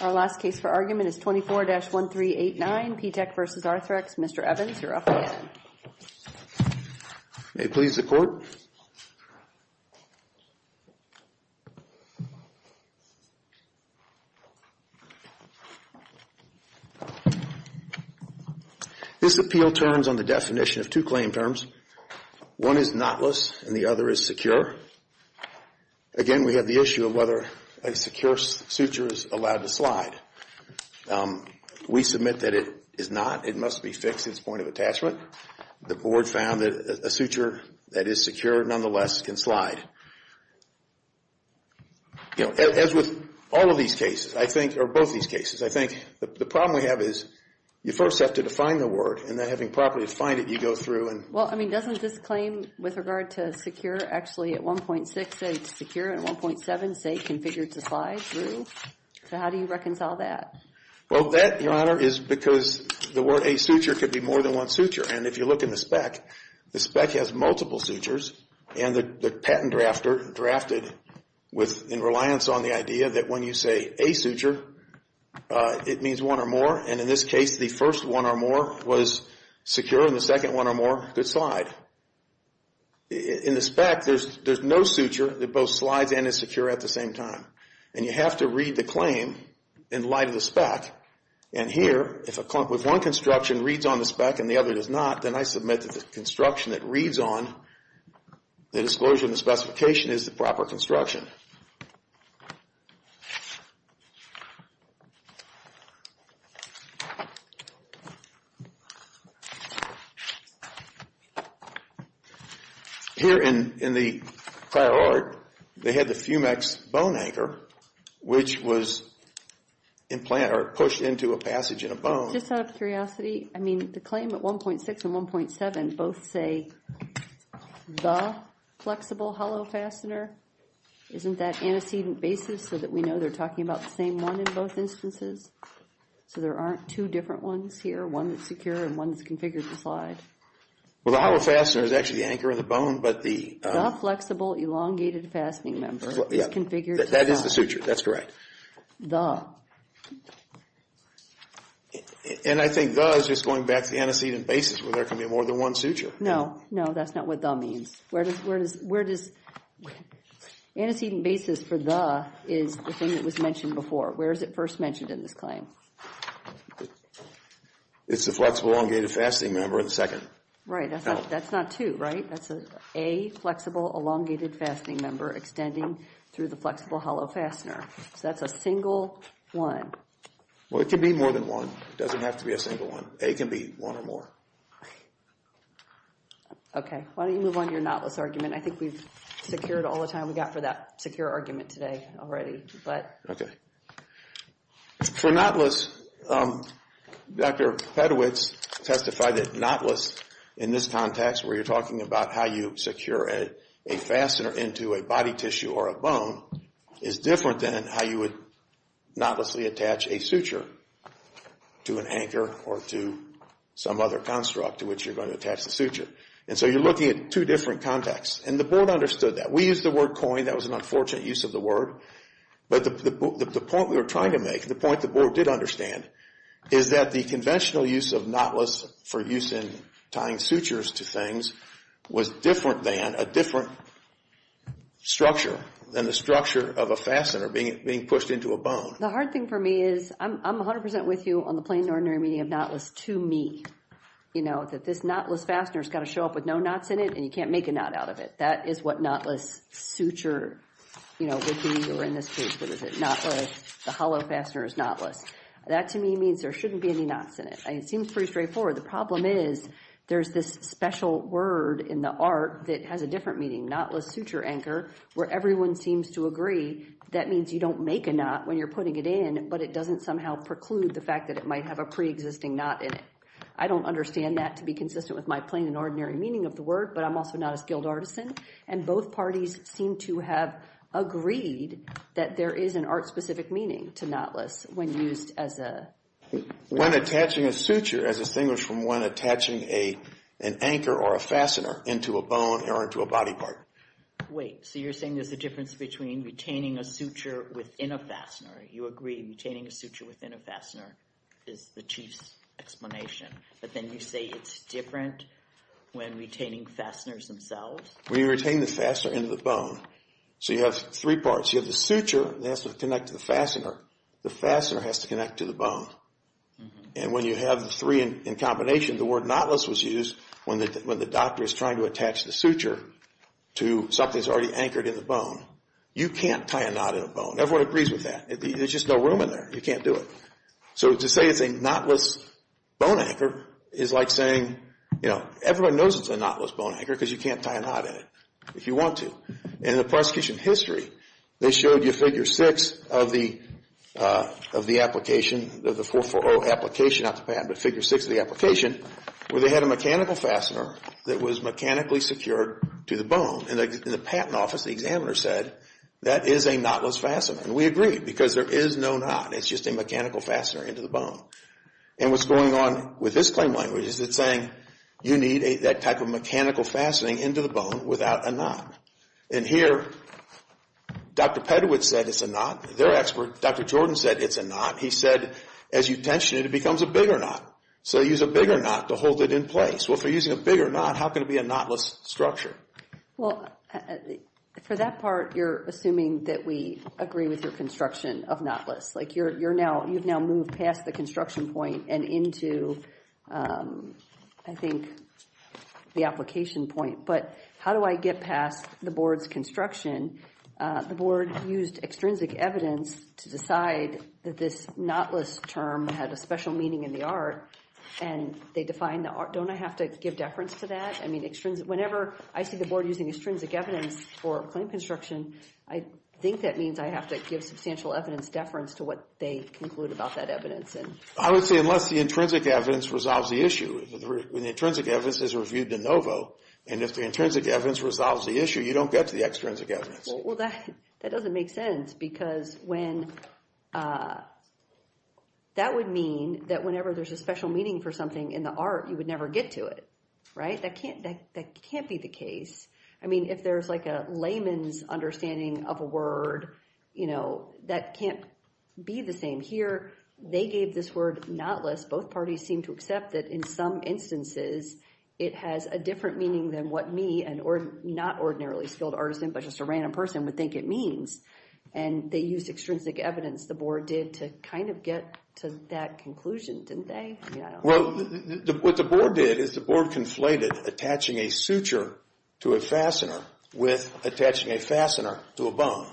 Our last case for argument is 24-1389 P Tech v. Arthrex. Mr. Evans, you're up again. May it please the Court. This appeal turns on the definition of two claim terms. One is not-less and the other is secure. Again, we have the issue of whether a secure suture is allowed to slide. We submit that it is not. It must be fixed at this point of attachment. The Board found that a suture that is secure, nonetheless, can slide. As with all of these cases, I think, or both these cases, I think the problem we have is you first have to define the word and then having properly defined it, you go through and- Well, I mean, doesn't this claim with regard to secure actually at 1.6 say it's secure and 1.7 say it's configured to slide through? So how do you reconcile that? Well, that, Your Honor, is because the word a suture could be more than one suture. And if you look in the spec, the spec has multiple sutures and the patent drafter drafted with reliance on the idea that when you say a suture, it means one or more. And in this case, the first one or more was secure and the second one or more could slide. In the spec, there's no suture that both slides and is secure at the same time. And you have to read the claim in light of the spec. And here, if one construction reads on the spec and the other does not, then I submit that the construction that reads on the disclosure and the specification is the proper construction. Here in the prior art, they had the Fumex bone anchor, which was implanted or pushed into a passage in a bone. Just out of curiosity, I mean, the claim at 1.6 and 1.7 both say the flexible hollow fastener isn't that antecedent basis so that we know they're talking about the same one in both instances? So there aren't two different ones here, one that's secure and one that's configured to slide? Well, the hollow fastener is actually the anchor of the bone, but the flexible elongated fastening member is configured to slide. That is the suture. That's correct. And I think the is just going back to the antecedent basis where there can be more than one suture. No, no, that's not what the means. Where does antecedent basis for the is the thing that was mentioned before? Where is it first mentioned in this claim? It's the flexible elongated fastening member in the second. Right, that's not two, right? That's an A, flexible elongated fastening member extending through the flexible hollow fastener. So that's a single one. Well, it could be more than one. It doesn't have to be a single one. A can be one or more. Okay, why don't you move on to your knotless argument? I think we've secured all the time we got for that secure argument today already, but... For knotless, Dr. Pedowitz testified that knotless in this context where you're talking about how you secure a fastener into a body tissue or a bone is different than how you would knotlessly attach a suture to an anchor or to some other construct to which you're going to attach the suture. And so you're looking at two different contexts. And the board understood that. We used the word coin. That was an unfortunate use of the word. But the point we were trying to make, the point the board did understand is that the conventional use of knotless for use in tying sutures to things was different than a different structure, than the structure of a fastener being pushed into a bone. The hard thing for me is, I'm 100% with you on the plain and ordinary meaning of knotless to me, you know, that this knotless fastener's got to show up with no knots in it and you can't make a knot out of it. That is what knotless suture, you know, would be or in this case, what is it? Knotless, the hollow fastener is knotless. That to me means there shouldn't be any knots in it. It seems pretty straightforward. The problem is, there's this special word in the art that has a different meaning, knotless suture anchor, where everyone seems to agree that means you don't make a knot when you're putting it in, but it doesn't somehow preclude the fact that it might have a pre-existing knot in it. I don't understand that to be consistent with my plain and ordinary meaning of the word, but I'm also not as skilled artisan. And both parties seem to have agreed that there is an art-specific meaning to knotless when used as a... When attaching a suture as distinguished from when attaching an anchor or a fastener into a bone or into a body part. Wait, so you're saying there's a difference between retaining a suture within a fastener. You agree retaining a suture within a fastener is the chief explanation, but then you say it's different when retaining fasteners themselves? When you retain the fastener into the bone. So you have three parts. You have the suture that has to connect to the fastener. The fastener has to connect to the bone. And when you have the three in combination, the word knotless was used when the doctor is trying to attach the suture to something that's already anchored in the bone. You can't tie a knot in a bone. Everyone agrees with that. There's just no room in there. You can't do it. So to say it's a knotless bone anchor is like saying, you know, everyone knows it's a knotless bone anchor because you can't tie a knot in it if you want to. And in the prosecution history, they showed you figure six of the application, of the 440 application, not the patent, but figure six of the application, where they had a mechanical fastener that was mechanically secured to the bone. And in the patent office, the examiner said that is a knotless fastener. And we agree because there is no knot. It's just a mechanical fastener into the bone. And what's going on with this claim language is it's saying you need that type of mechanical fastening into the bone without a knot. And here, Dr. Pedowitz said it's a knot. Their expert, Dr. Jordan, said it's a knot. He said as you tension it, it becomes a bigger knot. So you use a bigger knot to hold it in place. Well, if you're using a bigger knot, how can it be a knotless structure? Well, for that part, you're assuming that we agree with your construction of knotless. Like you've now moved past the construction point and into, I think, the application point. But how do I get past the board's construction? The board used extrinsic evidence to decide that this knotless term had a special meaning in the art. And they defined the art. Don't I have to give deference to that? Whenever I see the board using extrinsic evidence for a claim construction, I think that means I have to give substantial evidence deference to what they conclude about that evidence. I would say unless the intrinsic evidence resolves the issue. When the intrinsic evidence is reviewed de novo, and if the intrinsic evidence resolves the issue, you don't get to the extrinsic evidence. Well, that doesn't make sense because that would mean that whenever there's a special meaning for something in the art, you would never get to it. Right? That can't be the case. I mean, if there's like a layman's understanding of a word, you know, that can't be the same here. They gave this word knotless. Both parties seem to accept that in some instances, it has a different meaning than what me, not ordinarily skilled artisan, but just a random person would think it means. And they used extrinsic evidence, the board did, to kind of get to that conclusion, didn't they? Well, what the board did is the board conflated attaching a suture to a fastener with attaching a fastener to a bone.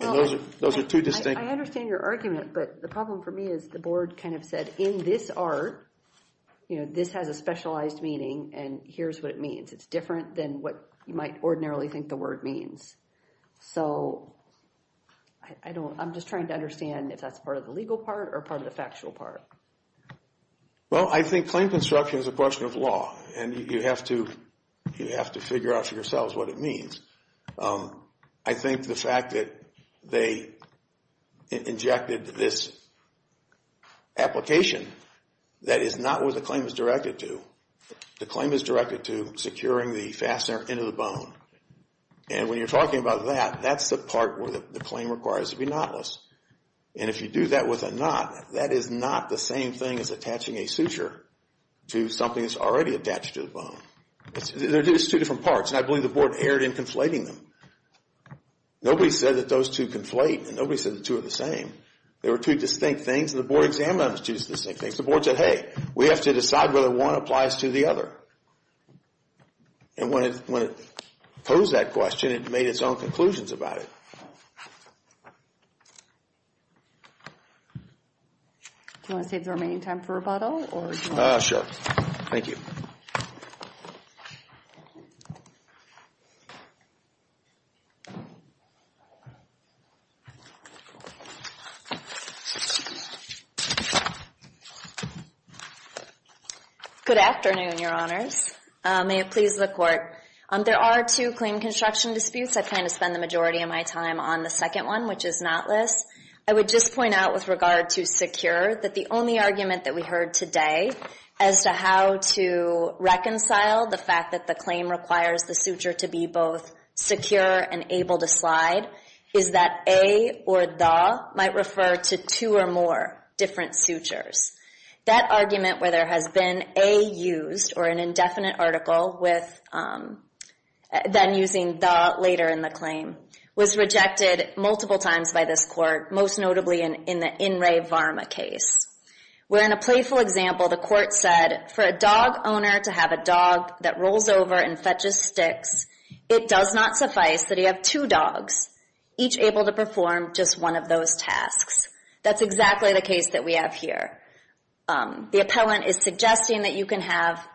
And those are two distinct... I understand your argument, but the problem for me is the board kind of said, in this art, you know, this has a specialized meaning and here's what it means. It's different than what you might ordinarily think the word means. So I don't, I'm just trying to understand if that's part of the legal part or part of the factual part. Well, I think claim construction is a question of law and you have to figure out for yourselves what it means. I think the fact that they injected this application, that is not what the claim is directed to. The claim is directed to securing the fastener into the bone. And when you're talking about that, that's the part where the claim requires to be knotless. And if you do that with a knot, that is not the same thing as attaching a suture to something that's already attached to the bone. They're just two different parts and I believe the board erred in conflating them. Nobody said that those two conflate and nobody said the two are the same. They were two distinct things and the board examined them as two distinct things. The board said, hey, we have to decide whether one applies to the other. And when it posed that question, it made its own conclusions about it. Do you want to save the remaining time for rebuttal? Sure. Thank you. Thank you. Good afternoon, your honors. May it please the court. There are two claim construction disputes. I plan to spend the majority of my time on the second one, which is knotless. I would just point out with regard to secure that the only argument that we heard today as to how to reconcile the fact that the claim requires the suture to be both secure and able to slide is that a or the might refer to two or more different sutures. That argument where there has been a used or an indefinite article with then using the later in the claim was rejected multiple times by this court, most notably in the In Re Varma case. Where in a playful example, the court said, for a dog owner to have a dog that rolls over and fetches sticks, it does not suffice that he have two dogs, each able to perform just one of those tasks. That's exactly the case that we have here. The appellant is suggesting that you can have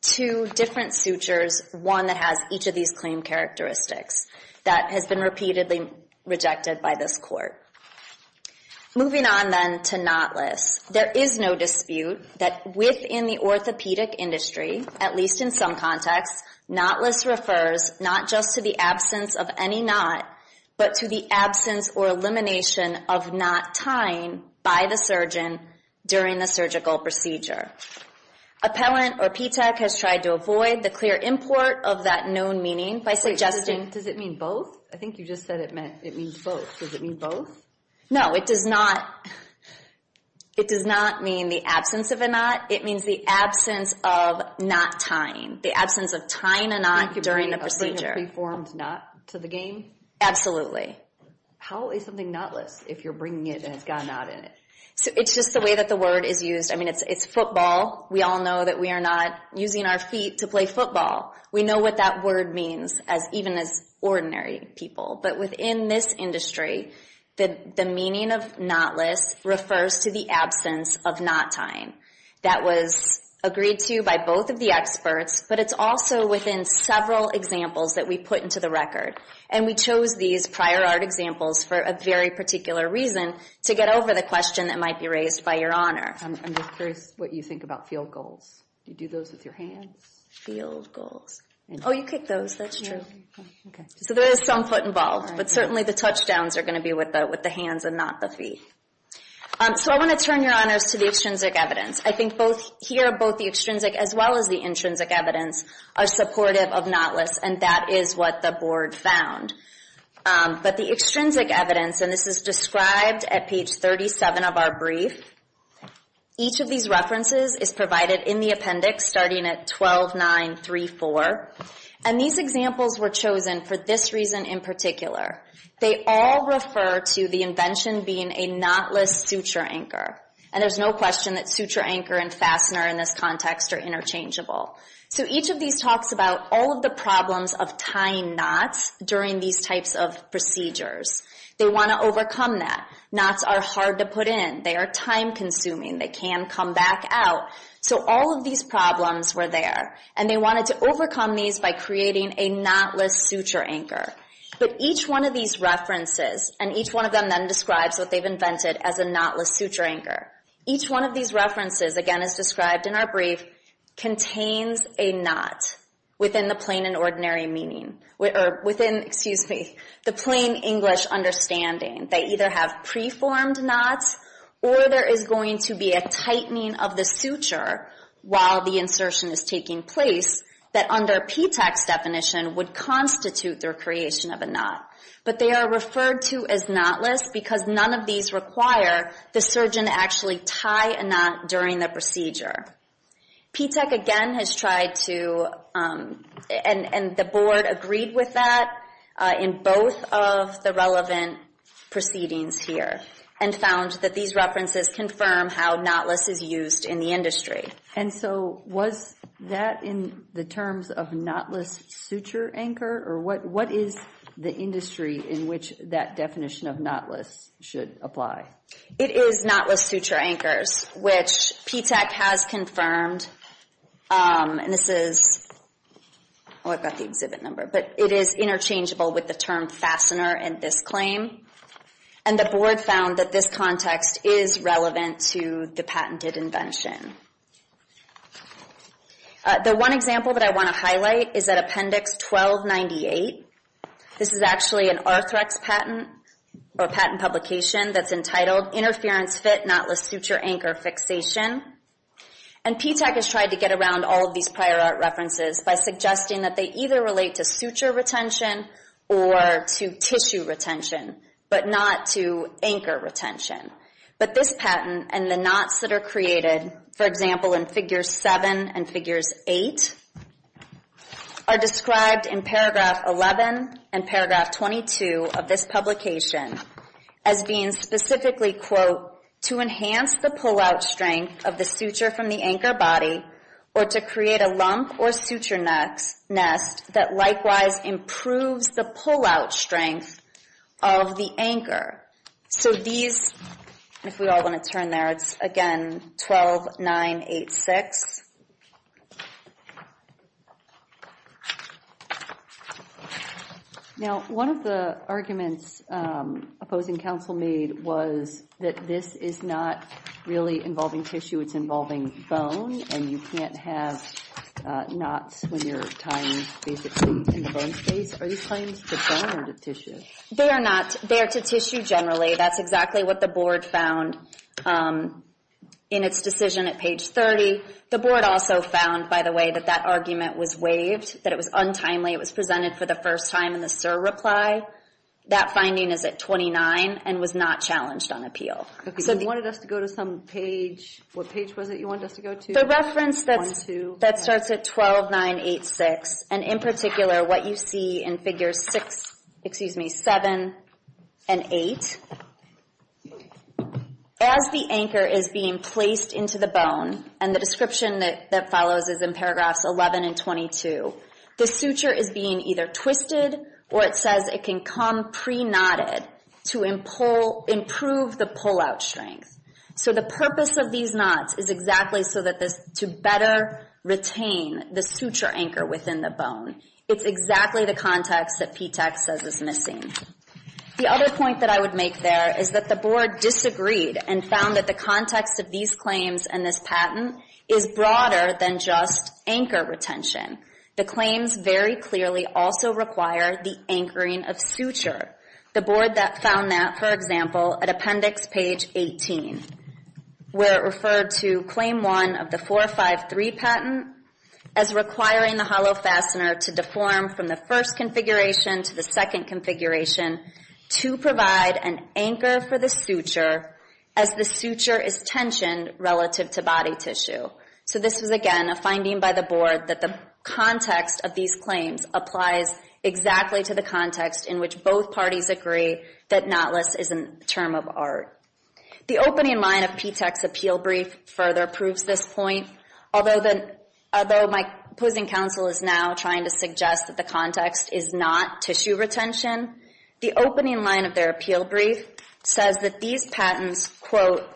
two different sutures, one that has each of these claim characteristics. That has been repeatedly rejected by this court. Moving on then to knotless. There is no dispute that within the orthopedic industry, at least in some contexts, knotless refers not just to the absence of any knot, but to the absence or elimination of knot tying by the surgeon during the surgical procedure. Appellant or PTAC has tried to avoid the clear import of that known meaning by suggesting... Again, does it mean both? I think you just said it means both. Does it mean both? No, it does not. It does not mean the absence of a knot. It means the absence of knot tying, the absence of tying a knot during a procedure. A preformed knot to the game? Absolutely. How is something knotless if you're bringing it and it's got a knot in it? It's just the way that the word is used. I mean, it's football. We all know that we are not using our feet to play football. We know what that word means even as ordinary people. But within this industry, the meaning of knotless refers to the absence of knot tying. That was agreed to by both of the experts, but it's also within several examples that we put into the record. And we chose these prior art examples for a very particular reason to get over the question that might be raised by Your Honor. I'm just curious what you think about field goals. Do you do those with your hands? Field goals? Oh, you kick those. That's true. So there is some foot involved, but certainly the touchdowns are going to be with the hands and not the feet. So I want to turn, Your Honors, to the extrinsic evidence. I think here both the extrinsic as well as the intrinsic evidence are supportive of knotless, and that is what the Board found. But the extrinsic evidence, and this is described at page 37 of our brief, each of these references is provided in the appendix starting at 12.934. And these examples were chosen for this reason in particular. They all refer to the invention being a knotless suture anchor. And there's no question that suture anchor and fastener in this context are interchangeable. So each of these talks about all of the problems of tying knots during these types of procedures. They want to overcome that. Knots are hard to put in. They are time-consuming. They can come back out. So all of these problems were there, and they wanted to overcome these by creating a knotless suture anchor. But each one of these references, and each one of them then describes what they've invented as a knotless suture anchor, each one of these references, again as described in our brief, contains a knot within the plain and ordinary meaning, or within, excuse me, the plain English understanding. They either have preformed knots, or there is going to be a tightening of the suture while the insertion is taking place that under P-TECH's definition would constitute their creation of a knot. But they are referred to as knotless because none of these require the surgeon to actually tie a knot during the procedure. P-TECH again has tried to, and the board agreed with that in both of the relevant proceedings here, and found that these references confirm how knotless is used in the industry. And so was that in the terms of knotless suture anchor, or what is the industry in which that definition of knotless should apply? It is knotless suture anchors, which P-TECH has confirmed, and this is, oh I've got the exhibit number, but it is interchangeable with the term fastener in this claim. And the board found that this context is relevant to the patented invention. The one example that I want to highlight is at Appendix 1298. This is actually an Arthrex patent, or patent publication, that's entitled Interference Fit Knotless Suture Anchor Fixation. And P-TECH has tried to get around all of these prior art references by suggesting that they either relate to suture retention or to tissue retention, but not to anchor retention. But this patent and the knots that are created, for example in Figures 7 and Figures 8, are described in Paragraph 11 and Paragraph 22 of this publication as being specifically, quote, to enhance the pull-out strength of the suture from the anchor body or to create a lump or suture nest that likewise improves the pull-out strength of the anchor. So these, if we all want to turn there, it's again 12986. Now, one of the arguments opposing counsel made was that this is not really involving tissue. It's involving bone, and you can't have knots when you're tying basically in the bone space. Are these claims to bone or to tissue? They are not. They are to tissue generally. That's exactly what the board found in its decision at page 30. The board also found, by the way, that that argument was waived, that it was untimely, it was presented for the first time in the SIR reply. That finding is at 29 and was not challenged on appeal. You wanted us to go to some page. What page was it you wanted us to go to? The reference that starts at 12986, and in particular what you see in Figures 6, excuse me, 7 and 8. As the anchor is being placed into the bone and the description that follows is in paragraphs 11 and 22, the suture is being either twisted or it says it can come pre-knotted to improve the pull-out strength. So the purpose of these knots is exactly so that this, to better retain the suture anchor within the bone. It's exactly the context that PTAC says is missing. The other point that I would make there is that the board disagreed and found that the context of these claims and this patent is broader than just anchor retention. The claims very clearly also require the anchoring of suture. The board found that, for example, at Appendix Page 18, where it referred to Claim 1 of the 453 patent as requiring the hollow fastener to deform from the first configuration to the second configuration to provide an anchor for the suture as the suture is tensioned relative to body tissue. So this was, again, a finding by the board that the context of these claims applies exactly to the context in which both parties agree that knotless is a term of art. The opening line of PTAC's appeal brief further proves this point. Although my opposing counsel is now trying to suggest that the context is not tissue retention, the opening line of their appeal brief says that these patents, quote,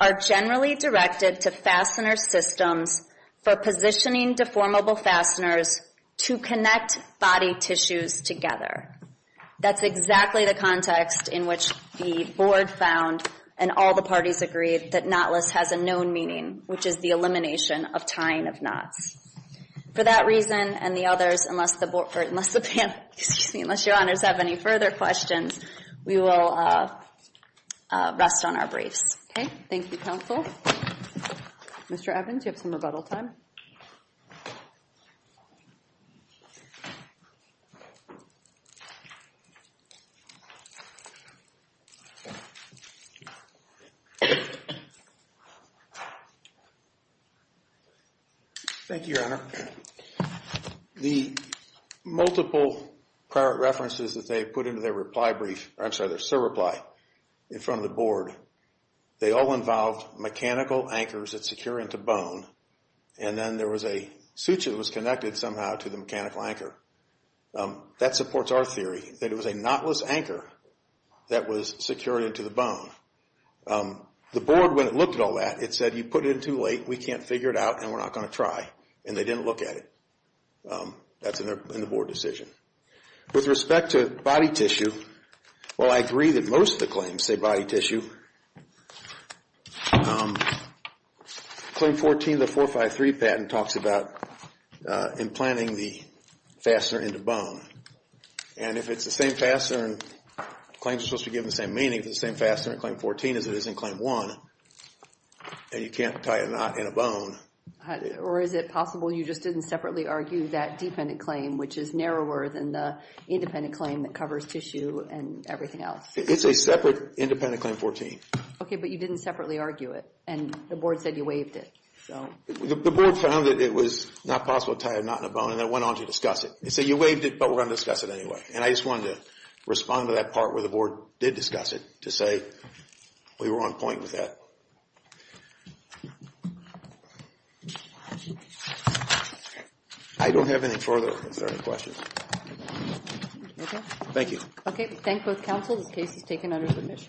are generally directed to fastener systems for positioning deformable fasteners to connect body tissues together. That's exactly the context in which the board found and all the parties agreed that knotless has a known meaning, which is the elimination of tying of knots. For that reason and the others, unless the board, or unless the panel, excuse me, unless your honors have any further questions, we will rest on our briefs. Okay, thank you, counsel. Mr. Evans, you have some rebuttal time. Thank you, your honor. The multiple prior references that they put into their reply brief, I'm sorry, their surreply in front of the board, they all involved mechanical anchors that secure into bone and then there was a suture that was connected somehow to the mechanical anchor. That supports our theory, that it was a knotless anchor that was secured into the bone. The board, when it looked at all that, it said, you put it in too late, we can't figure it out, and we're not going to try, and they didn't look at it. That's in the board decision. With respect to body tissue, while I agree that most of the claims say body tissue, claim 14 of the 453 patent talks about implanting the fastener into bone. And if it's the same fastener, claims are supposed to be given the same meaning, if it's the same fastener in claim 14 as it is in claim 1, and you can't tie a knot in a bone. Or is it possible you just didn't separately argue that dependent claim, which is narrower than the independent claim that covers tissue and everything else? It's a separate independent claim 14. Okay, but you didn't separately argue it, and the board said you waived it. The board found that it was not possible to tie a knot in a bone, and they went on to discuss it. They said, you waived it, but we're going to discuss it anyway. And I just wanted to respond to that part where the board did discuss it, to say we were on point with that. I don't have anything further if there are any questions. Okay. Thank you. Okay, we thank both counsel. This case is taken under admission.